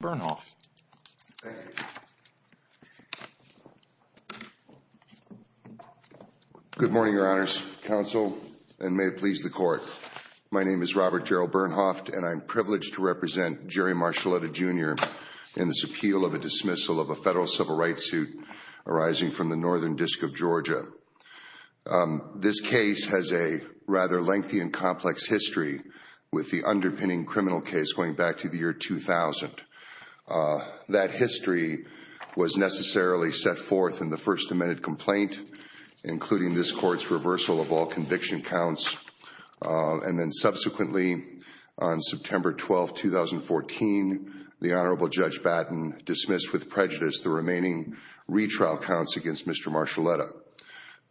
Good morning, Your Honors, Counsel, and may it please the Court. My name is Robert Gerald Bernhoft, and I am privileged to represent Jerry Marchelletta, Jr. in this appeal of a dismissal of a federal civil rights suit arising from the Northern District of Georgia. This case has a rather lengthy and complex history, with the underpinning criminal case going back to the year 2000. That history was necessarily set forth in the First Amendment complaint, including this Court's reversal of all conviction counts. And then subsequently, on September 12, 2014, the Honorable Judge Batten dismissed with prejudice the remaining retrial counts against Mr. Marchelletta.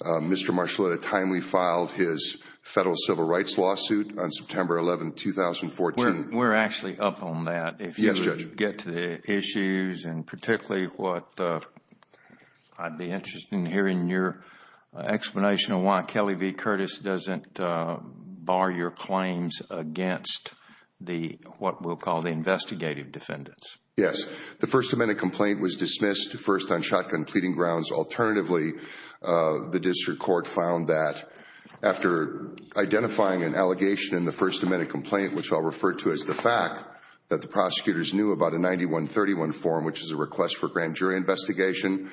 Mr. Marchelletta timely filed his federal civil rights lawsuit on September 11, 2014. We're actually up on that. Yes, Judge. If you could get to the issues, and particularly what I'd be interested in hearing your explanation of why Kelly v. Curtis doesn't bar your claims against what we'll call the investigative defendants. Yes. The First Amendment complaint was dismissed first on shotgun pleading grounds. Alternatively, the District Court found that after identifying an allegation in the First Amendment, referred to as the fact that the prosecutors knew about a 9131 form, which is a request for grand jury investigation,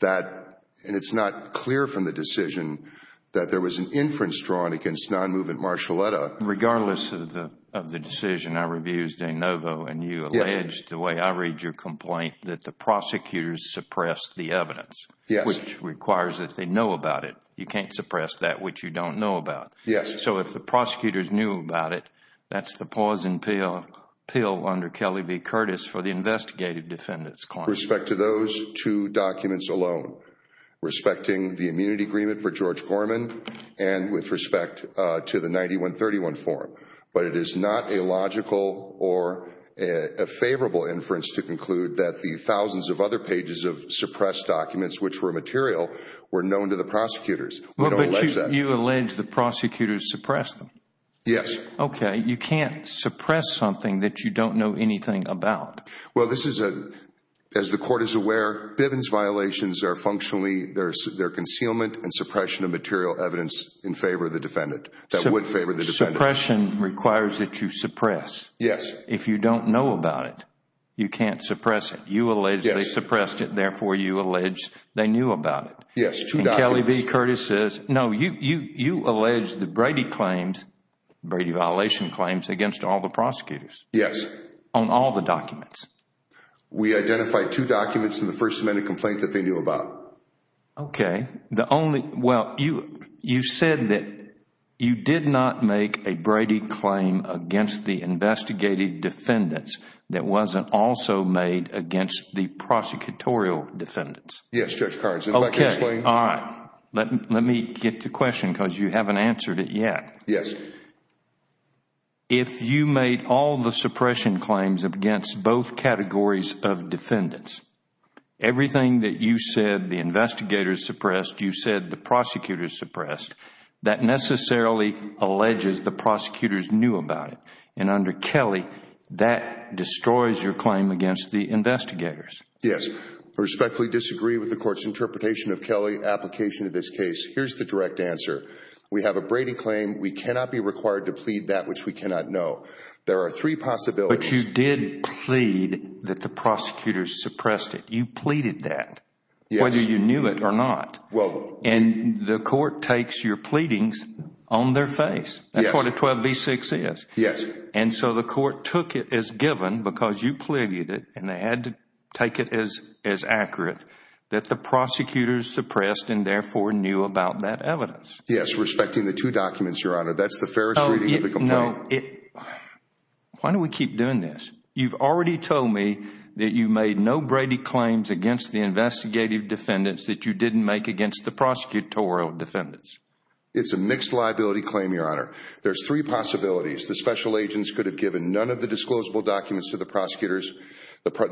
that, and it's not clear from the decision, that there was an inference drawn against non-movement Marchelletta. Regardless of the decision, I reviewed De Novo, and you alleged, the way I read your complaint, that the prosecutors suppressed the evidence, which requires that they know about it. You can't suppress that which you don't know about. Yes. So, if the prosecutors knew about it, that's the pause in appeal under Kelly v. Curtis for the investigative defendants' claim. Respect to those two documents alone, respecting the immunity agreement for George Gorman, and with respect to the 9131 form, but it is not a logical or a favorable inference to conclude that the thousands of other pages of suppressed documents, which were material, were known to the prosecutors. I don't allege that. You allege the prosecutors suppressed them. Yes. Okay. You can't suppress something that you don't know anything about. Well, this is a, as the court is aware, Bivens violations are functionally, they're concealment and suppression of material evidence in favor of the defendant, that would favor the defendant. Suppression requires that you suppress. Yes. If you don't know about it, you can't suppress it. You allege they suppressed it, therefore, you allege they knew about it. Yes, two documents. Kelly v. Curtis says, no, you allege the Brady claims, Brady violation claims, against all the prosecutors. Yes. On all the documents. We identified two documents in the First Amendment complaint that they knew about. Okay. The only, well, you said that you did not make a Brady claim against the investigative defendants that wasn't also made against the prosecutorial defendants. Yes, Judge Cards. Okay. All right. Let me get to the question because you haven't answered it yet. Yes. If you made all the suppression claims against both categories of defendants, everything that you said the investigators suppressed, you said the prosecutors suppressed, that necessarily alleges the prosecutors knew about it. And under Kelly, that destroys your claim against the investigators. Yes. I respectfully disagree with the court's interpretation of Kelly's application of this case. Here's the direct answer. We have a Brady claim. We cannot be required to plead that which we cannot know. There are three possibilities. But you did plead that the prosecutors suppressed it. You pleaded that. Yes. Whether you knew it or not. Well, we... And the court takes your pleadings on their face. Yes. That's what a 12b-6 is. Yes. And so the court took it as given because you pleaded it and they had to take it as accurate that the prosecutors suppressed and therefore knew about that evidence. Yes. Respecting the two documents, Your Honor. That's the fairest reading of the complaint. No. Why do we keep doing this? You've already told me that you made no Brady claims against the investigative defendants that you didn't make against the prosecutorial defendants. It's a mixed liability claim, Your Honor. There's three possibilities. The special agents could have given none of the disclosable documents to the prosecutors.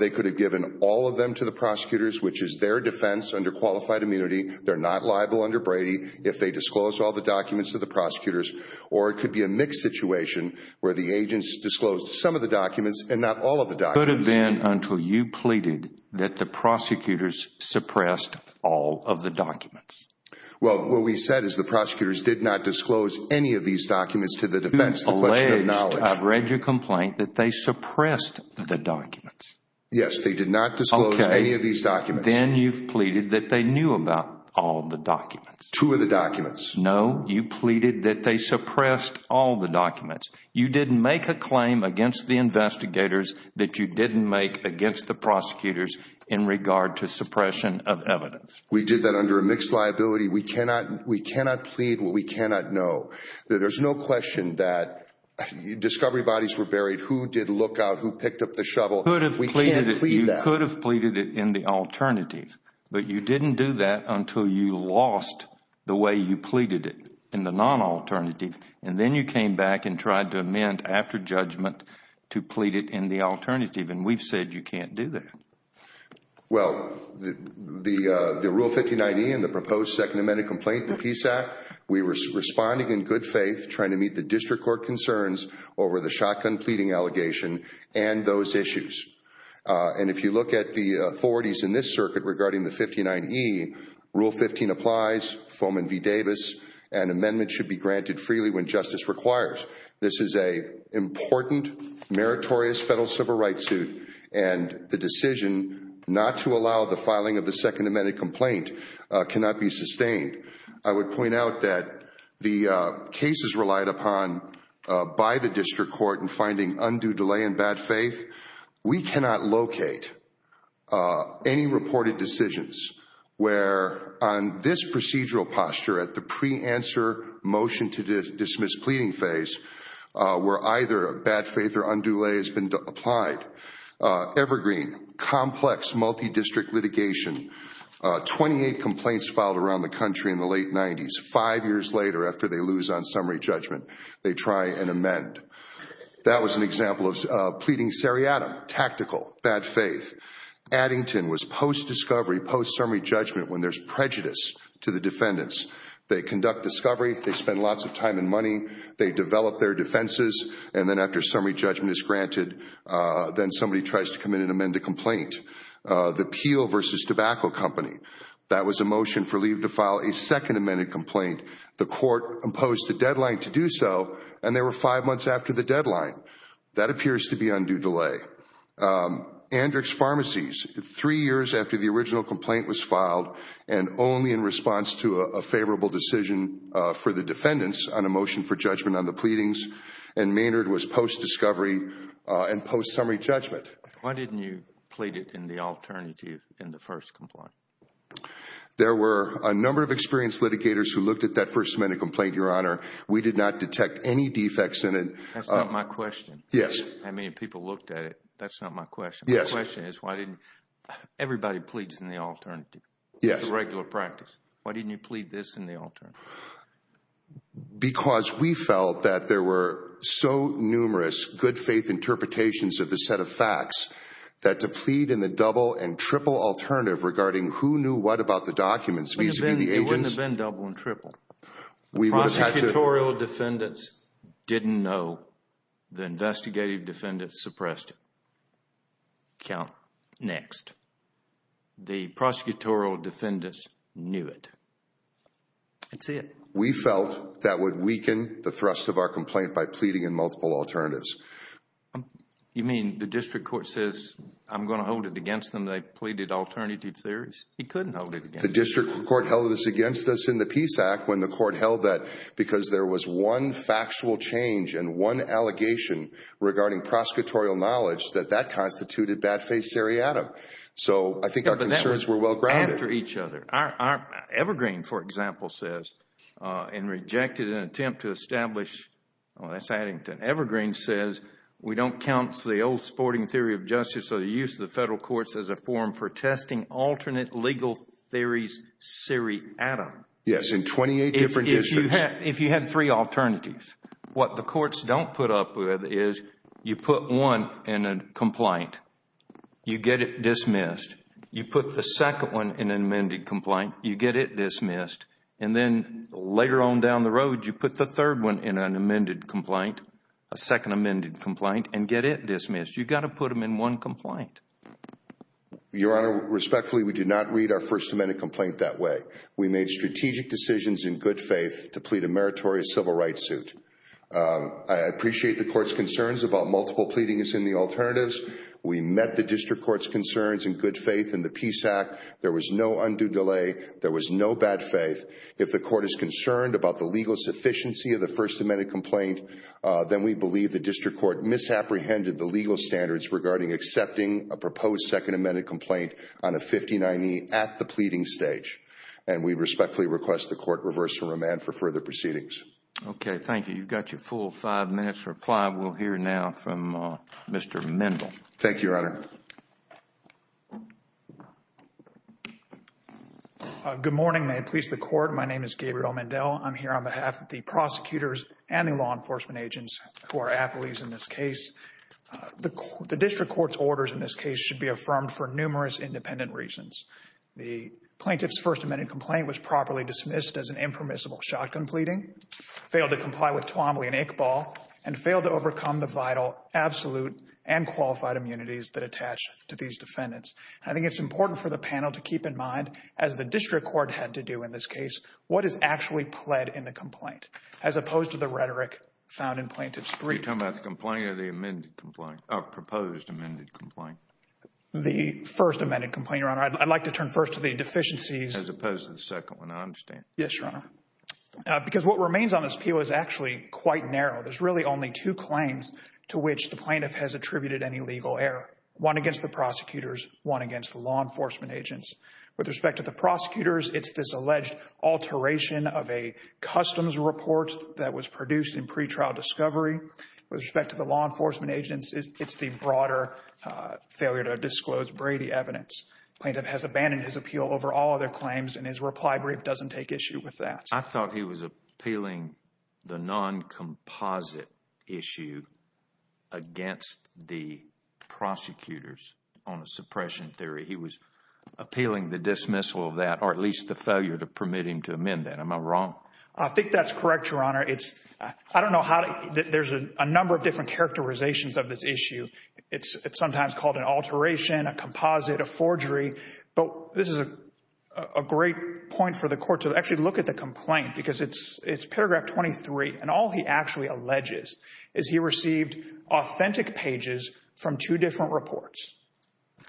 They could have given all of them to the prosecutors, which is their defense under qualified immunity. They're not liable under Brady if they disclose all the documents to the prosecutors. Or it could be a mixed situation where the agents disclosed some of the documents and not all of the documents. It could have been until you pleaded that the prosecutors suppressed all of the documents. Well, what we said is the prosecutors did not disclose any of these documents to the defendants. That's the question of knowledge. Alleged. I've read your complaint that they suppressed the documents. Yes. They did not disclose any of these documents. Okay. Then you've pleaded that they knew about all the documents. Two of the documents. No. You pleaded that they suppressed all the documents. You didn't make a claim against the investigators that you didn't make against the prosecutors in regard to suppression of evidence. We did that under a mixed liability. We cannot plead what we cannot know. There's no question that discovery bodies were buried. Who did look out? Who picked up the shovel? We can't plead that. You could have pleaded it in the alternative, but you didn't do that until you lost the way you pleaded it in the non-alternative, and then you came back and tried to amend after judgment to plead it in the alternative, and we've said you can't do that. Well, the Rule 59E and the proposed Second Amendment Complaint to the Peace Act, we were responding in good faith, trying to meet the district court concerns over the shotgun pleading allegation and those issues, and if you look at the authorities in this circuit regarding the 59E, Rule 15 applies, Foman v. Davis, and amendments should be granted freely when justice requires. This is an important, meritorious federal civil rights suit, and the decision not to allow the filing of the Second Amendment Complaint cannot be sustained. I would point out that the cases relied upon by the district court in finding undue delay and bad faith, we cannot locate any reported decisions where, on this procedural posture at the pre-answer motion to dismiss pleading phase, where either bad faith or undue delay has been applied, evergreen, complex multi-district litigation, 28 complaints filed around the country in the late 90s. Five years later, after they lose on summary judgment, they try and amend. That was an example of pleading seriatim, tactical, bad faith. Addington was post-discovery, post-summary judgment when there's prejudice to the defendants. They conduct discovery, they spend lots of time and money, they develop their defenses, and then after summary judgment is granted, then somebody tries to come in and amend a complaint. The Peel v. Tobacco Company, that was a motion for leave to file a Second Amendment Complaint. The court imposed a deadline to do so, and there were five months after the deadline. That appears to be undue delay. Andrick's Pharmacies, three years after the original complaint was filed and only in response to a favorable decision for the defendants on a motion for judgment on the pleadings, and Maynard was post-discovery and post-summary judgment. Why didn't you plead it in the alternative in the first complaint? There were a number of experienced litigators who looked at that First Amendment Complaint, Your Honor. We did not detect any defects in it. That's not my question. Yes. How many people looked at it? That's not my question. Yes. My question is, why didn't everybody pleads in the alternative? Yes. It's a regular practice. Why didn't you plead this in the alternative? Because we felt that there were so numerous good-faith interpretations of the set of facts that to plead in the double and triple alternative regarding who knew what about the documents vis-a-vis the agents... It wouldn't have been double and triple. We would have had to... The prosecutorial defendants didn't know. The investigative defendants suppressed it. Count next. The prosecutorial defendants knew it. That's it. We felt that would weaken the thrust of our complaint by pleading in multiple alternatives. You mean the district court says, I'm going to hold it against them, they pleaded alternative theories? He couldn't hold it against them. The district court held this against us in the Peace Act when the court held that because there was one factual change and one allegation regarding prosecutorial knowledge that that So I think our concerns were well-grounded. After each other. Evergreen, for example, says, and rejected an attempt to establish, that's Addington. Evergreen says, we don't count the old sporting theory of justice or the use of the federal courts as a forum for testing alternate legal theories seriatim. Yes, in 28 different districts. If you had three alternatives, what the courts don't put up with is you put one in a complaint, you get it dismissed. You put the second one in an amended complaint, you get it dismissed. And then later on down the road, you put the third one in an amended complaint, a second amended complaint, and get it dismissed. You've got to put them in one complaint. Your Honor, respectfully, we did not read our first amended complaint that way. We made strategic decisions in good faith to plead a meritorious civil rights suit. I appreciate the court's concerns about multiple pleadings in the alternatives. We met the district court's concerns in good faith in the Peace Act. There was no undue delay. There was no bad faith. If the court is concerned about the legal sufficiency of the first amended complaint, then we believe the district court misapprehended the legal standards regarding accepting a proposed second amended complaint on a 59E at the pleading stage. And we respectfully request the court reverse the remand for further proceedings. Okay. Thank you. You've got your full five minutes to reply. We'll hear now from Mr. Mendel. Thank you, Your Honor. Good morning. May it please the court. My name is Gabriel Mendel. I'm here on behalf of the prosecutors and the law enforcement agents who are appellees in this case. The district court's orders in this case should be affirmed for numerous independent reasons. The plaintiff's first amended complaint was properly dismissed as an impermissible shotgun pleading, failed to comply with Twombly and Iqbal, and failed to overcome the vital, absolute, and qualified immunities that attach to these defendants. I think it's important for the panel to keep in mind, as the district court had to do in this case, what is actually pled in the complaint, as opposed to the rhetoric found in plaintiff's brief. Are you talking about the complaint or the amended complaint, or proposed amended complaint? The first amended complaint, Your Honor. I'd like to turn first to the deficiencies. As opposed to the second one, I understand. Yes, Your Honor. Because what remains on this appeal is actually quite narrow. There's really only two claims to which the plaintiff has attributed any legal error. One against the prosecutors, one against the law enforcement agents. With respect to the prosecutors, it's this alleged alteration of a customs report that was produced in pretrial discovery. With respect to the law enforcement agents, it's the broader failure to disclose Brady evidence. The plaintiff has abandoned his appeal over all other claims, and his reply brief doesn't take issue with that. I thought he was appealing the non-composite issue against the prosecutors on a suppression theory. He was appealing the dismissal of that, or at least the failure to permit him to amend that. Am I wrong? I think that's correct, Your Honor. I don't know how... there's a number of different characterizations of this issue. It's sometimes called an alteration, a composite, a forgery, but this is a great point for the court to actually look at the complaint, because it's paragraph 23, and all he actually alleges is he received authentic pages from two different reports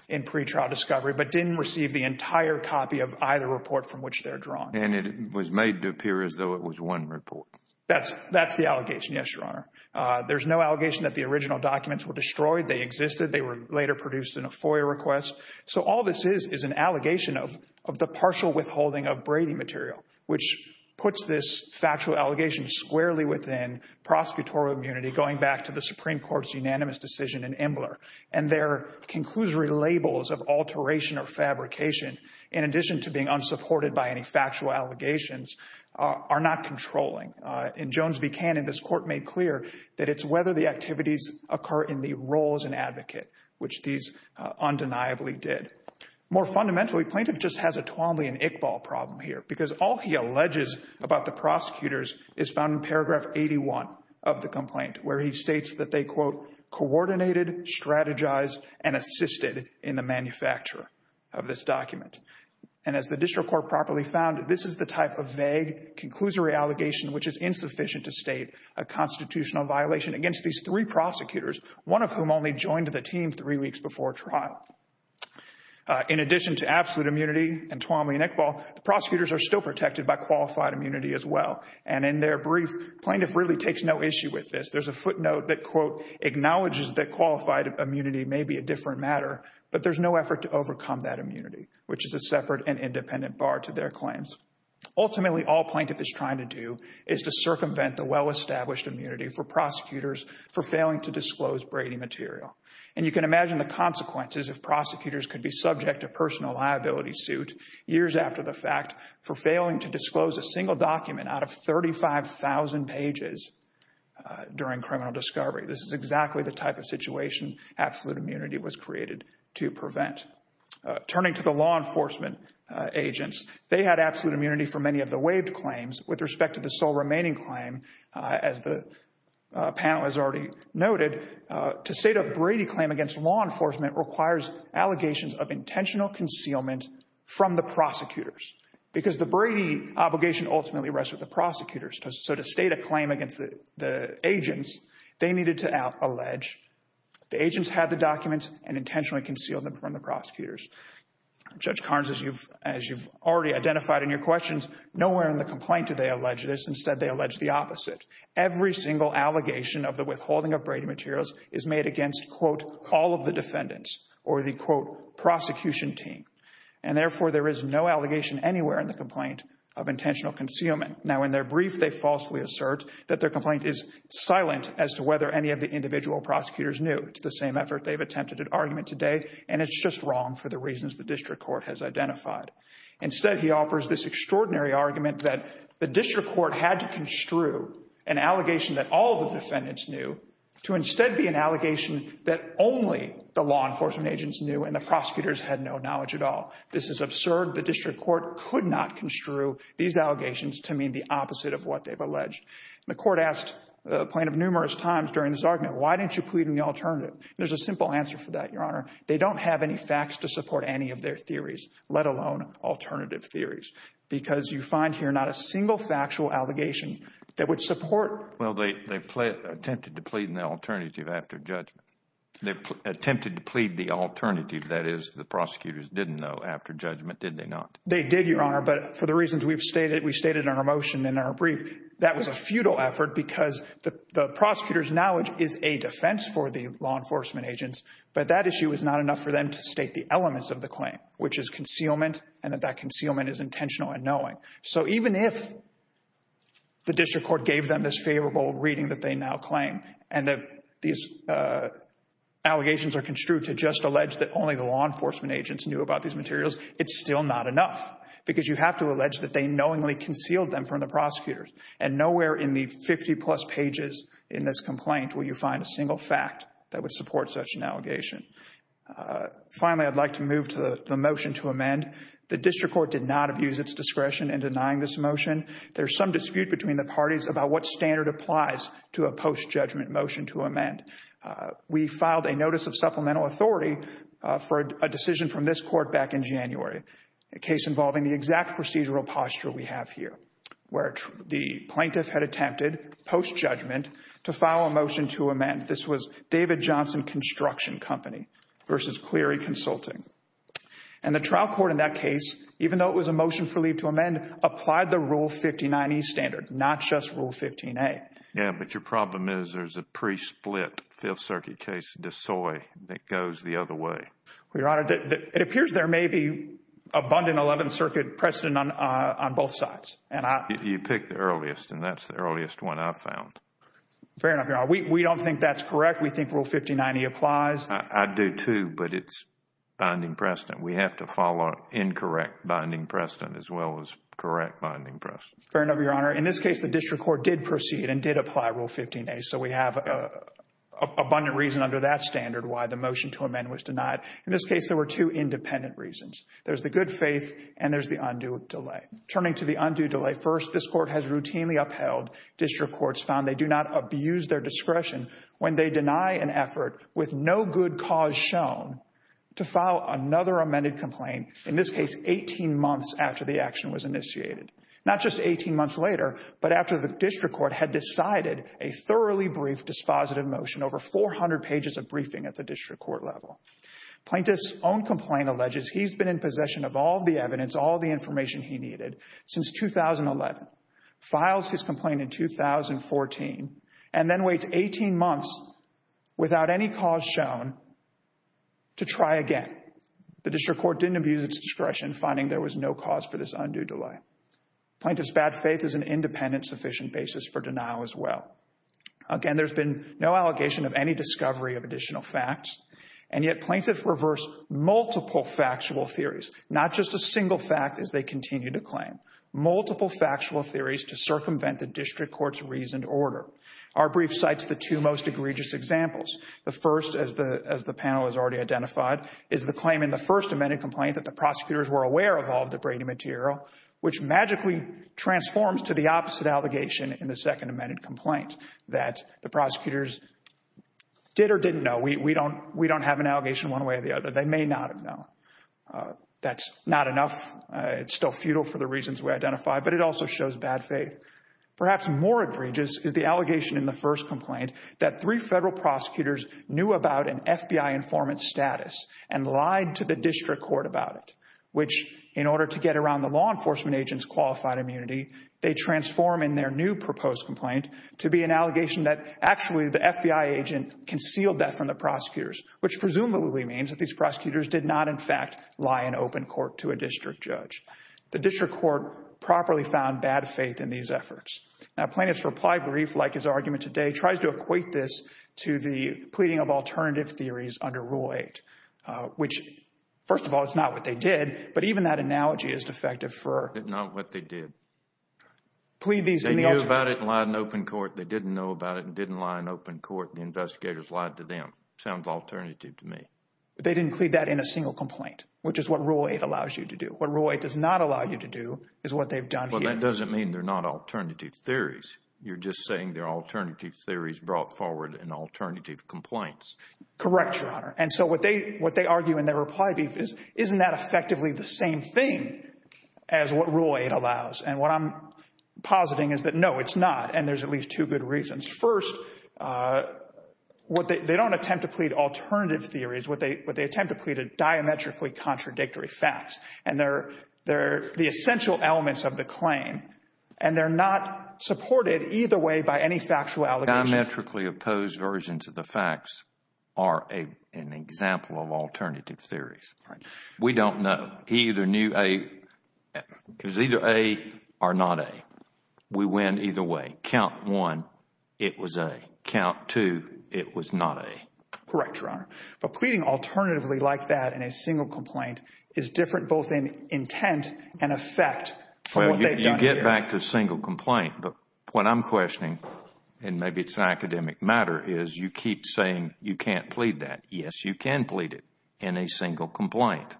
in pretrial discovery, but didn't receive the entire copy of either report from which they're drawn. And it was made to appear as though it was one report. That's the allegation, yes, Your Honor. There's no allegation that the original documents were destroyed. They existed. They were later produced in a FOIA request. So all this is is an allegation of the partial withholding of Brady material, which puts this factual allegation squarely within prosecutorial immunity, going back to the Supreme Court's unanimous decision in Embler. And their conclusory labels of alteration or fabrication, in addition to being unsupported by any factual allegations, are not controlling. In Jones v. Cannon, this court made clear that it's whether the activities occur in the role as an advocate, which these undeniably did. More fundamentally, plaintiff just has a Twombly and Iqbal problem here, because all he alleges about the prosecutors is found in paragraph 81 of the complaint, where he states that they, quote, coordinated, strategized, and assisted in the manufacture of this document. And as the district court properly found, this is the type of vague conclusory allegation which is insufficient to state a constitutional violation against these three prosecutors, one of whom only joined the team three weeks before trial. In addition to absolute immunity and Twombly and Iqbal, the prosecutors are still protected by qualified immunity as well. And in their brief, plaintiff really takes no issue with this. There's a footnote that, quote, acknowledges that qualified immunity may be a different matter, but there's no effort to overcome that immunity, which is a separate and independent bar to their claims. Ultimately, all plaintiff is trying to do is to circumvent the well-established immunity for prosecutors for failing to disclose Brady material. And you can imagine the consequences if prosecutors could be subject to personal liability suit years after the fact for failing to disclose a single document out of 35,000 pages during criminal discovery. This is exactly the type of situation absolute immunity was created to prevent. Turning to the law enforcement agents, they had absolute immunity for many of the waived claims with respect to the sole remaining claim. As the panel has already noted, to state a Brady claim against law enforcement requires allegations of intentional concealment from the prosecutors because the Brady obligation ultimately rests with the prosecutors. So to state a claim against the agents, they needed to allege the agents had the documents and intentionally conceal them from the prosecutors. Judge Carnes, as you've already identified in your questions, nowhere in the complaint do they allege this. Instead, they allege the opposite. Every single allegation of the withholding of Brady materials is made against, quote, all of the defendants or the, quote, prosecution team. And therefore, there is no allegation anywhere in the complaint of intentional concealment. Now, in their brief, they falsely assert that their complaint is silent as to whether any of the individual prosecutors knew. It's the same effort they've attempted at argument today, and it's just wrong for the reasons the district court has identified. Instead, he offers this extraordinary argument that the district court had to construe an allegation that all of the defendants knew to instead be an allegation that only the law enforcement agents knew and the prosecutors had no knowledge at all. This is absurd. The district court could not construe these allegations to mean the opposite of what they've alleged. The court asked the plaintiff numerous times during this argument, why didn't you plead in the alternative? There's a simple answer for that, Your Honor. They don't have any facts to support any of their theories, let alone alternative theories, because you find here not a single factual allegation that would support. Well, they attempted to plead in the alternative after judgment. They attempted to plead the alternative, that is, the prosecutors didn't know after judgment, did they not? They did, Your Honor, but for the reasons we've stated, we stated in our motion, in our brief, that was a futile effort because the prosecutor's knowledge is a defense for the law enforcement agents, but that issue is not enough for them to state the elements of the claim, which is concealment and that that concealment is intentional and knowing. So even if the district court gave them this favorable reading that they now claim and that these allegations are construed to just allege that only the law enforcement agents knew about these materials, it's still not enough because you have to allege that they knowingly concealed them from the prosecutors and nowhere in the 50-plus pages in this complaint will you find a single fact that would support such an allegation. Finally, I'd like to move to the motion to amend. The district court did not abuse its discretion in denying this motion. There's some dispute between the parties about what standard applies to a post-judgment motion to amend. We filed a notice of supplemental authority for a decision from this court back in January, a case involving the exact procedural posture we have here, where the plaintiff had attempted post-judgment to file a motion to amend. This was David Johnson Construction Company versus Cleary Consulting. And the trial court in that case, even though it was a motion for leave to amend, applied the Rule 59E standard, not just Rule 15A. Yeah, but your problem is there's a pre-split Fifth Circuit case, Desoy, that goes the other way. Your Honor, it appears there may be abundant Eleventh Circuit precedent on both sides. You picked the earliest, and that's the earliest one I've found. Fair enough, Your Honor. We don't think that's correct. We think Rule 59E applies. I do too, but it's binding precedent. We have to follow incorrect binding precedent as well as correct binding precedent. Fair enough, Your Honor. In this case, the district court did proceed and did apply Rule 15A, so we have abundant reason under that standard why the motion to amend was denied. In this case, there were two independent reasons. There's the good faith, and there's the undue delay. Turning to the undue delay, first, this Court has routinely upheld district courts found they do not abuse their discretion when they deny an effort with no good cause shown to file another amended complaint, in this case, 18 months after the action was initiated. Not just 18 months later, but after the district court had decided a thoroughly brief dispositive motion, over 400 pages of briefing at the district court level. Plaintiff's own complaint alleges he's been in possession of all the evidence, all the information he needed since 2011, files his complaint in 2014, and then waits 18 months without any cause shown to try again. The district court didn't abuse its discretion, finding there was no cause for this undue delay. Plaintiff's bad faith is an independent sufficient basis for denial as well. Again, there's been no allegation of any discovery of additional facts, and yet plaintiffs reverse multiple factual theories, not just a single fact as they continue to claim. Multiple factual theories to circumvent the district court's reasoned order. Our brief cites the two most egregious examples. The first, as the panel has already identified, is the claim in the first amended complaint that the prosecutors were aware of all of the Brady material, which magically transforms to the opposite allegation in the second amended complaint, that the prosecutors did or didn't know. We don't have an allegation one way or the other. They may not have known. That's not enough. It's still futile for the reasons we identified, but it also shows bad faith. Perhaps more egregious is the allegation in the first complaint that three federal prosecutors knew about an FBI informant's status and lied to the district court about it, which, in turn, they transform in their new proposed complaint to be an allegation that, actually, the FBI agent concealed that from the prosecutors, which presumably means that these prosecutors did not, in fact, lie in open court to a district judge. The district court properly found bad faith in these efforts. Now, plaintiff's reply brief, like his argument today, tries to equate this to the pleading of alternative theories under Rule 8, which, first of all, is not what they did, but even that analogy is defective for— They knew about it and lied in open court. They didn't know about it and didn't lie in open court. The investigators lied to them. Sounds alternative to me. They didn't plead that in a single complaint, which is what Rule 8 allows you to do. What Rule 8 does not allow you to do is what they've done here. Well, that doesn't mean they're not alternative theories. You're just saying they're alternative theories brought forward in alternative complaints. Correct, Your Honor. And so what they argue in their reply brief is, isn't that effectively the same thing as what Rule 8 allows? And what I'm positing is that, no, it's not, and there's at least two good reasons. First, they don't attempt to plead alternative theories. What they attempt to plead are diametrically contradictory facts, and they're the essential elements of the claim, and they're not supported either way by any factual allegation. Diametrically opposed versions of the facts are an example of alternative theories. We don't know. He either knew A. It was either A or not A. We win either way. Count 1, it was A. Count 2, it was not A. Correct, Your Honor. But pleading alternatively like that in a single complaint is different both in intent and effect from what they've done here. Well, you get back to single complaint, but what I'm questioning, and maybe it's an academic matter, is you keep saying you can't plead that. Yes, you can plead it in a single complaint.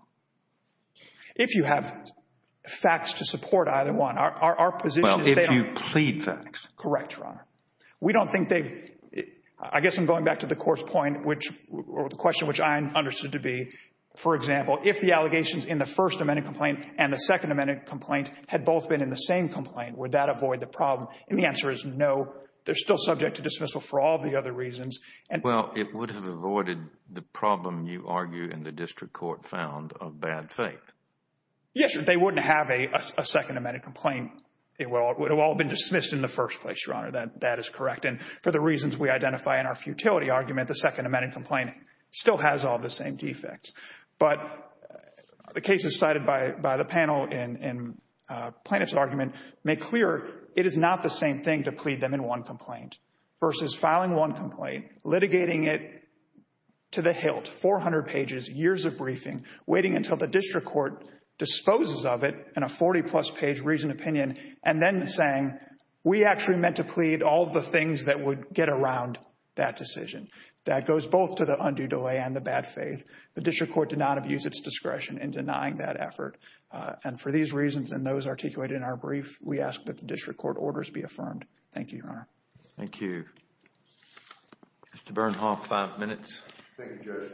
If you have facts to support either one, our position is they aren't— Well, if you plead facts. Correct, Your Honor. We don't think they—I guess I'm going back to the court's point, or the question which I understood to be, for example, if the allegations in the First Amendment complaint and the Second Amendment complaint had both been in the same complaint, would that avoid the problem? And the answer is no. They're still subject to dismissal for all the other reasons. Well, it would have avoided the problem you argue in the district court found of bad faith. Yes, they wouldn't have a Second Amendment complaint. It would have all been dismissed in the first place, Your Honor. That is correct. And for the reasons we identify in our futility argument, the Second Amendment complaint still has all the same defects. But the cases cited by the panel in plaintiff's argument make clear it is not the same thing to plead them in one complaint versus filing one complaint, litigating it to the hilt, 400 pages, years of briefing, waiting until the district court disposes of it in a 40-plus page reasoned opinion, and then saying, we actually meant to plead all the things that would get around that decision. That goes both to the undue delay and the bad faith. The district court did not have used its discretion in denying that effort. And for these reasons and those articulated in our brief, we ask that the district court orders be affirmed. Thank you, Your Honor. Thank you. Mr. Bernhoff, five minutes. Thank you, Judge.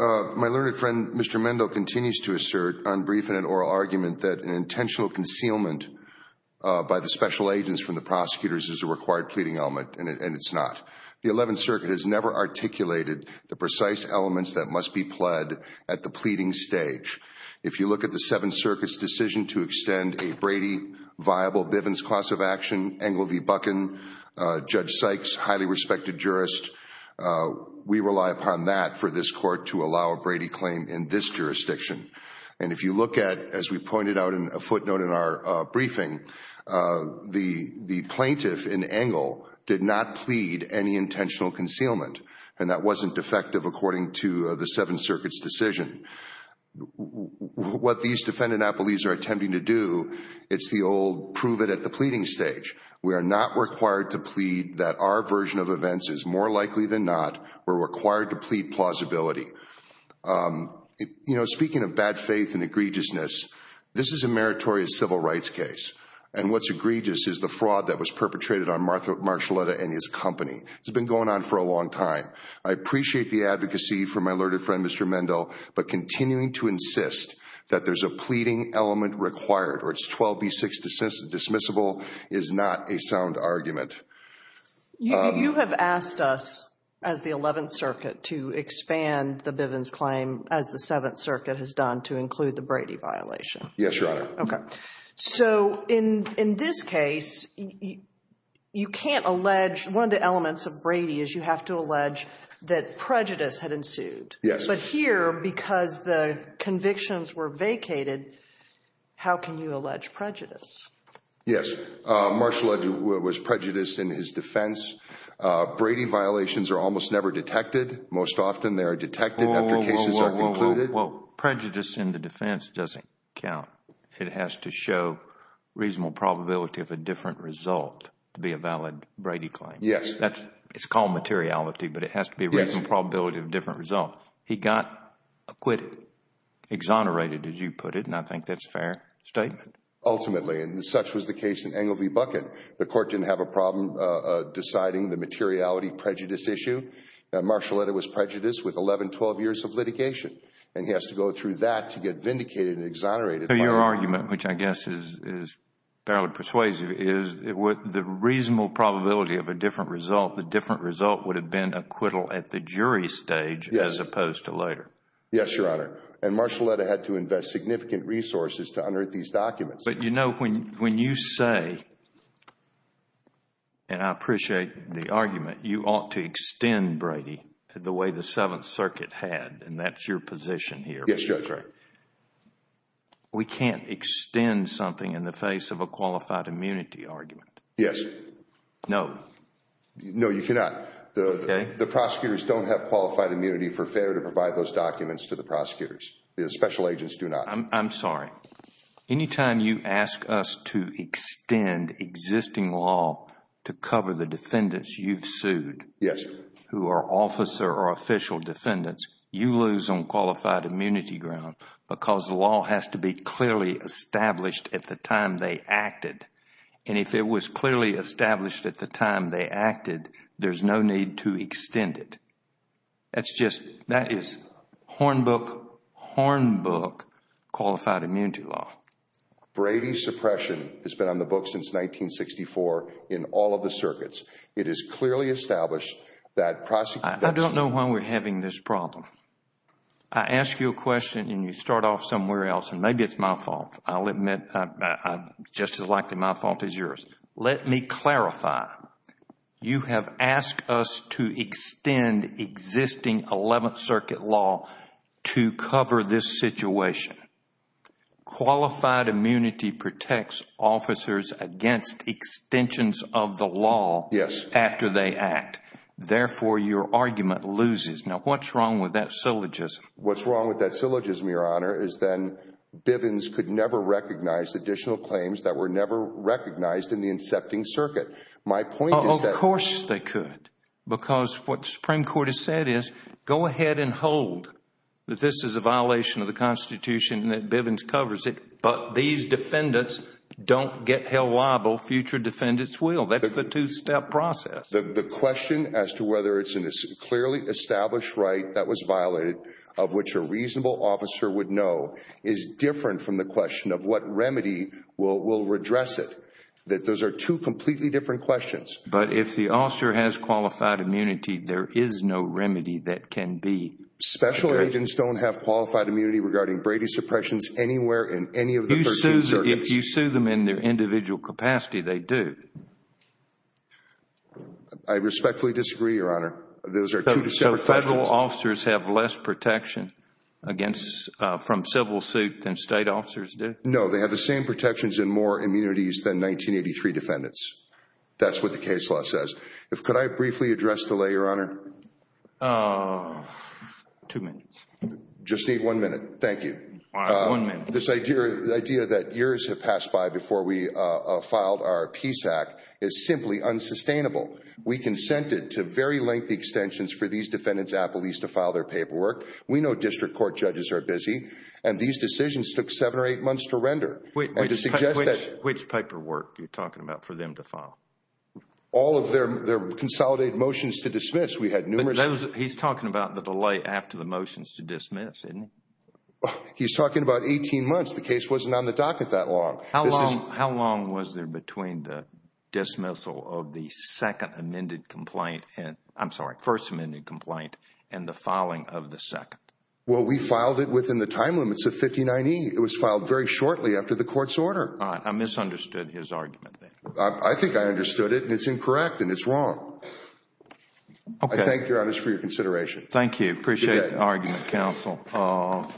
My learned friend, Mr. Mendel, continues to assert on briefing and oral argument that an intentional concealment by the special agents from the prosecutors is a required pleading element, and it's not. The Eleventh Circuit has never articulated the precise elements that must be pled at the pleading stage. If you look at the Seventh Circuit's decision to extend a Brady-viable Bivens class of action, Engle v. Buchan, Judge Sykes, highly respected jurist, we rely upon that for this court to allow a Brady claim in this jurisdiction. And if you look at, as we pointed out in a footnote in our briefing, the plaintiff in Engle did not plead any intentional concealment, and that wasn't defective according to the Seventh Circuit's decision. What these defendant-appellees are attempting to do, it's the old prove it at the pleading stage. We are not required to plead that our version of events is more likely than not. We're required to plead plausibility. Speaking of bad faith and egregiousness, this is a meritorious civil rights case, and what's egregious is the fraud that was perpetrated on Marshaletta and his company. It's been going on for a long time. I appreciate the advocacy from my learned friend, Mr. Mendel, but continuing to insist that there's a pleading element required, or it's 12B6 dismissible, is not a sound argument. You have asked us, as the Eleventh Circuit, to expand the Bivens claim, as the Seventh Circuit has done, to include the Brady violation. Yes, Your Honor. Okay. So in this case, you can't allege, one of the elements of Brady is you have to allege that prejudice had ensued. Yes. But here, because the convictions were vacated, how can you allege prejudice? Yes. Marshaletta was prejudiced in his defense. Brady violations are almost never detected. Most often, they are detected after cases are concluded. Well, prejudice in the defense doesn't count. It has to show reasonable probability of a different result to be a valid Brady claim. Yes. It's called materiality, but it has to be a reasonable probability of a different result. He got acquitted, exonerated, as you put it, and I think that's a fair statement. Ultimately, and such was the case in Engle v. Bucket. The Court didn't have a problem deciding the materiality prejudice issue. Marshaletta was prejudiced with 11, 12 years of litigation, and he has to go through that to get vindicated and exonerated. Your argument, which I guess is fairly persuasive, is the reasonable probability of a different result would have been acquittal at the jury stage as opposed to later. Yes, Your Honor, and Marshaletta had to invest significant resources to unearth these documents. But you know, when you say, and I appreciate the argument, you ought to extend Brady the way the Seventh Circuit had, and that's your position here. Yes, Judge. We can't extend something in the face of a qualified immunity argument. Yes. No. No, you cannot. Okay. The prosecutors don't have qualified immunity for failure to provide those documents to the prosecutors. The special agents do not. I'm sorry. Anytime you ask us to extend existing law to cover the defendants you've sued... Yes.... who are officer or official defendants, you lose on qualified immunity ground because the law has to be clearly established at the time they acted. And if it was clearly established at the time they acted, there's no need to extend it. That's just... that is hornbook, hornbook qualified immunity law. Brady's suppression has been on the books since 1964 in all of the circuits. It is clearly established that prosecutors... I don't know why we're having this problem. I ask you a question and you start off somewhere else, and maybe it's my fault. I'll admit just as likely my fault as yours. Let me clarify. You have asked us to extend existing Eleventh Circuit law to cover this situation. Qualified immunity protects officers against extensions of the law... Yes.... after they act. Therefore, your argument loses. Now, what's wrong with that syllogism? Your Honor, is then Bivens could never recognize additional claims that were never recognized in the incepting circuit. My point is that... Of course they could because what the Supreme Court has said is go ahead and hold that this is a violation of the Constitution and that Bivens covers it, but these defendants don't get held liable. Future defendants will. That's the two-step process. The question as to whether it's a clearly established right that was violated of which a reasonable officer would know is different from the question of what remedy will redress it. Those are two completely different questions. But if the officer has qualified immunity, there is no remedy that can be... Special agents don't have qualified immunity regarding Brady suppressions anywhere in any of the 13 circuits. If you sue them in their individual capacity, they do. I respectfully disagree, Your Honor. Those are two separate questions. Federal officers have less protection from civil suit than state officers do? No, they have the same protections and more immunities than 1983 defendants. That's what the case law says. Could I briefly address the lay, Your Honor? Two minutes. Just need one minute. Thank you. All right, one minute. This idea that years have passed by before we filed our Peace Act is simply unsustainable. We consented to very lengthy extensions for these defendants, at least to file their paperwork. We know district court judges are busy, and these decisions took seven or eight months to render and to suggest that... Which paperwork are you talking about for them to file? All of their consolidated motions to dismiss. We had numerous... He's talking about the delay after the motions to dismiss, isn't he? He's talking about 18 months. The case wasn't on the docket that long. How long was there between the dismissal of the second amended complaint and... I'm sorry, first amended complaint and the filing of the second? Well, we filed it within the time limits of 59E. It was filed very shortly after the court's order. I misunderstood his argument there. I think I understood it, and it's incorrect, and it's wrong. Okay. I thank you, Your Honor, for your consideration. Thank you. Appreciate the argument, counsel.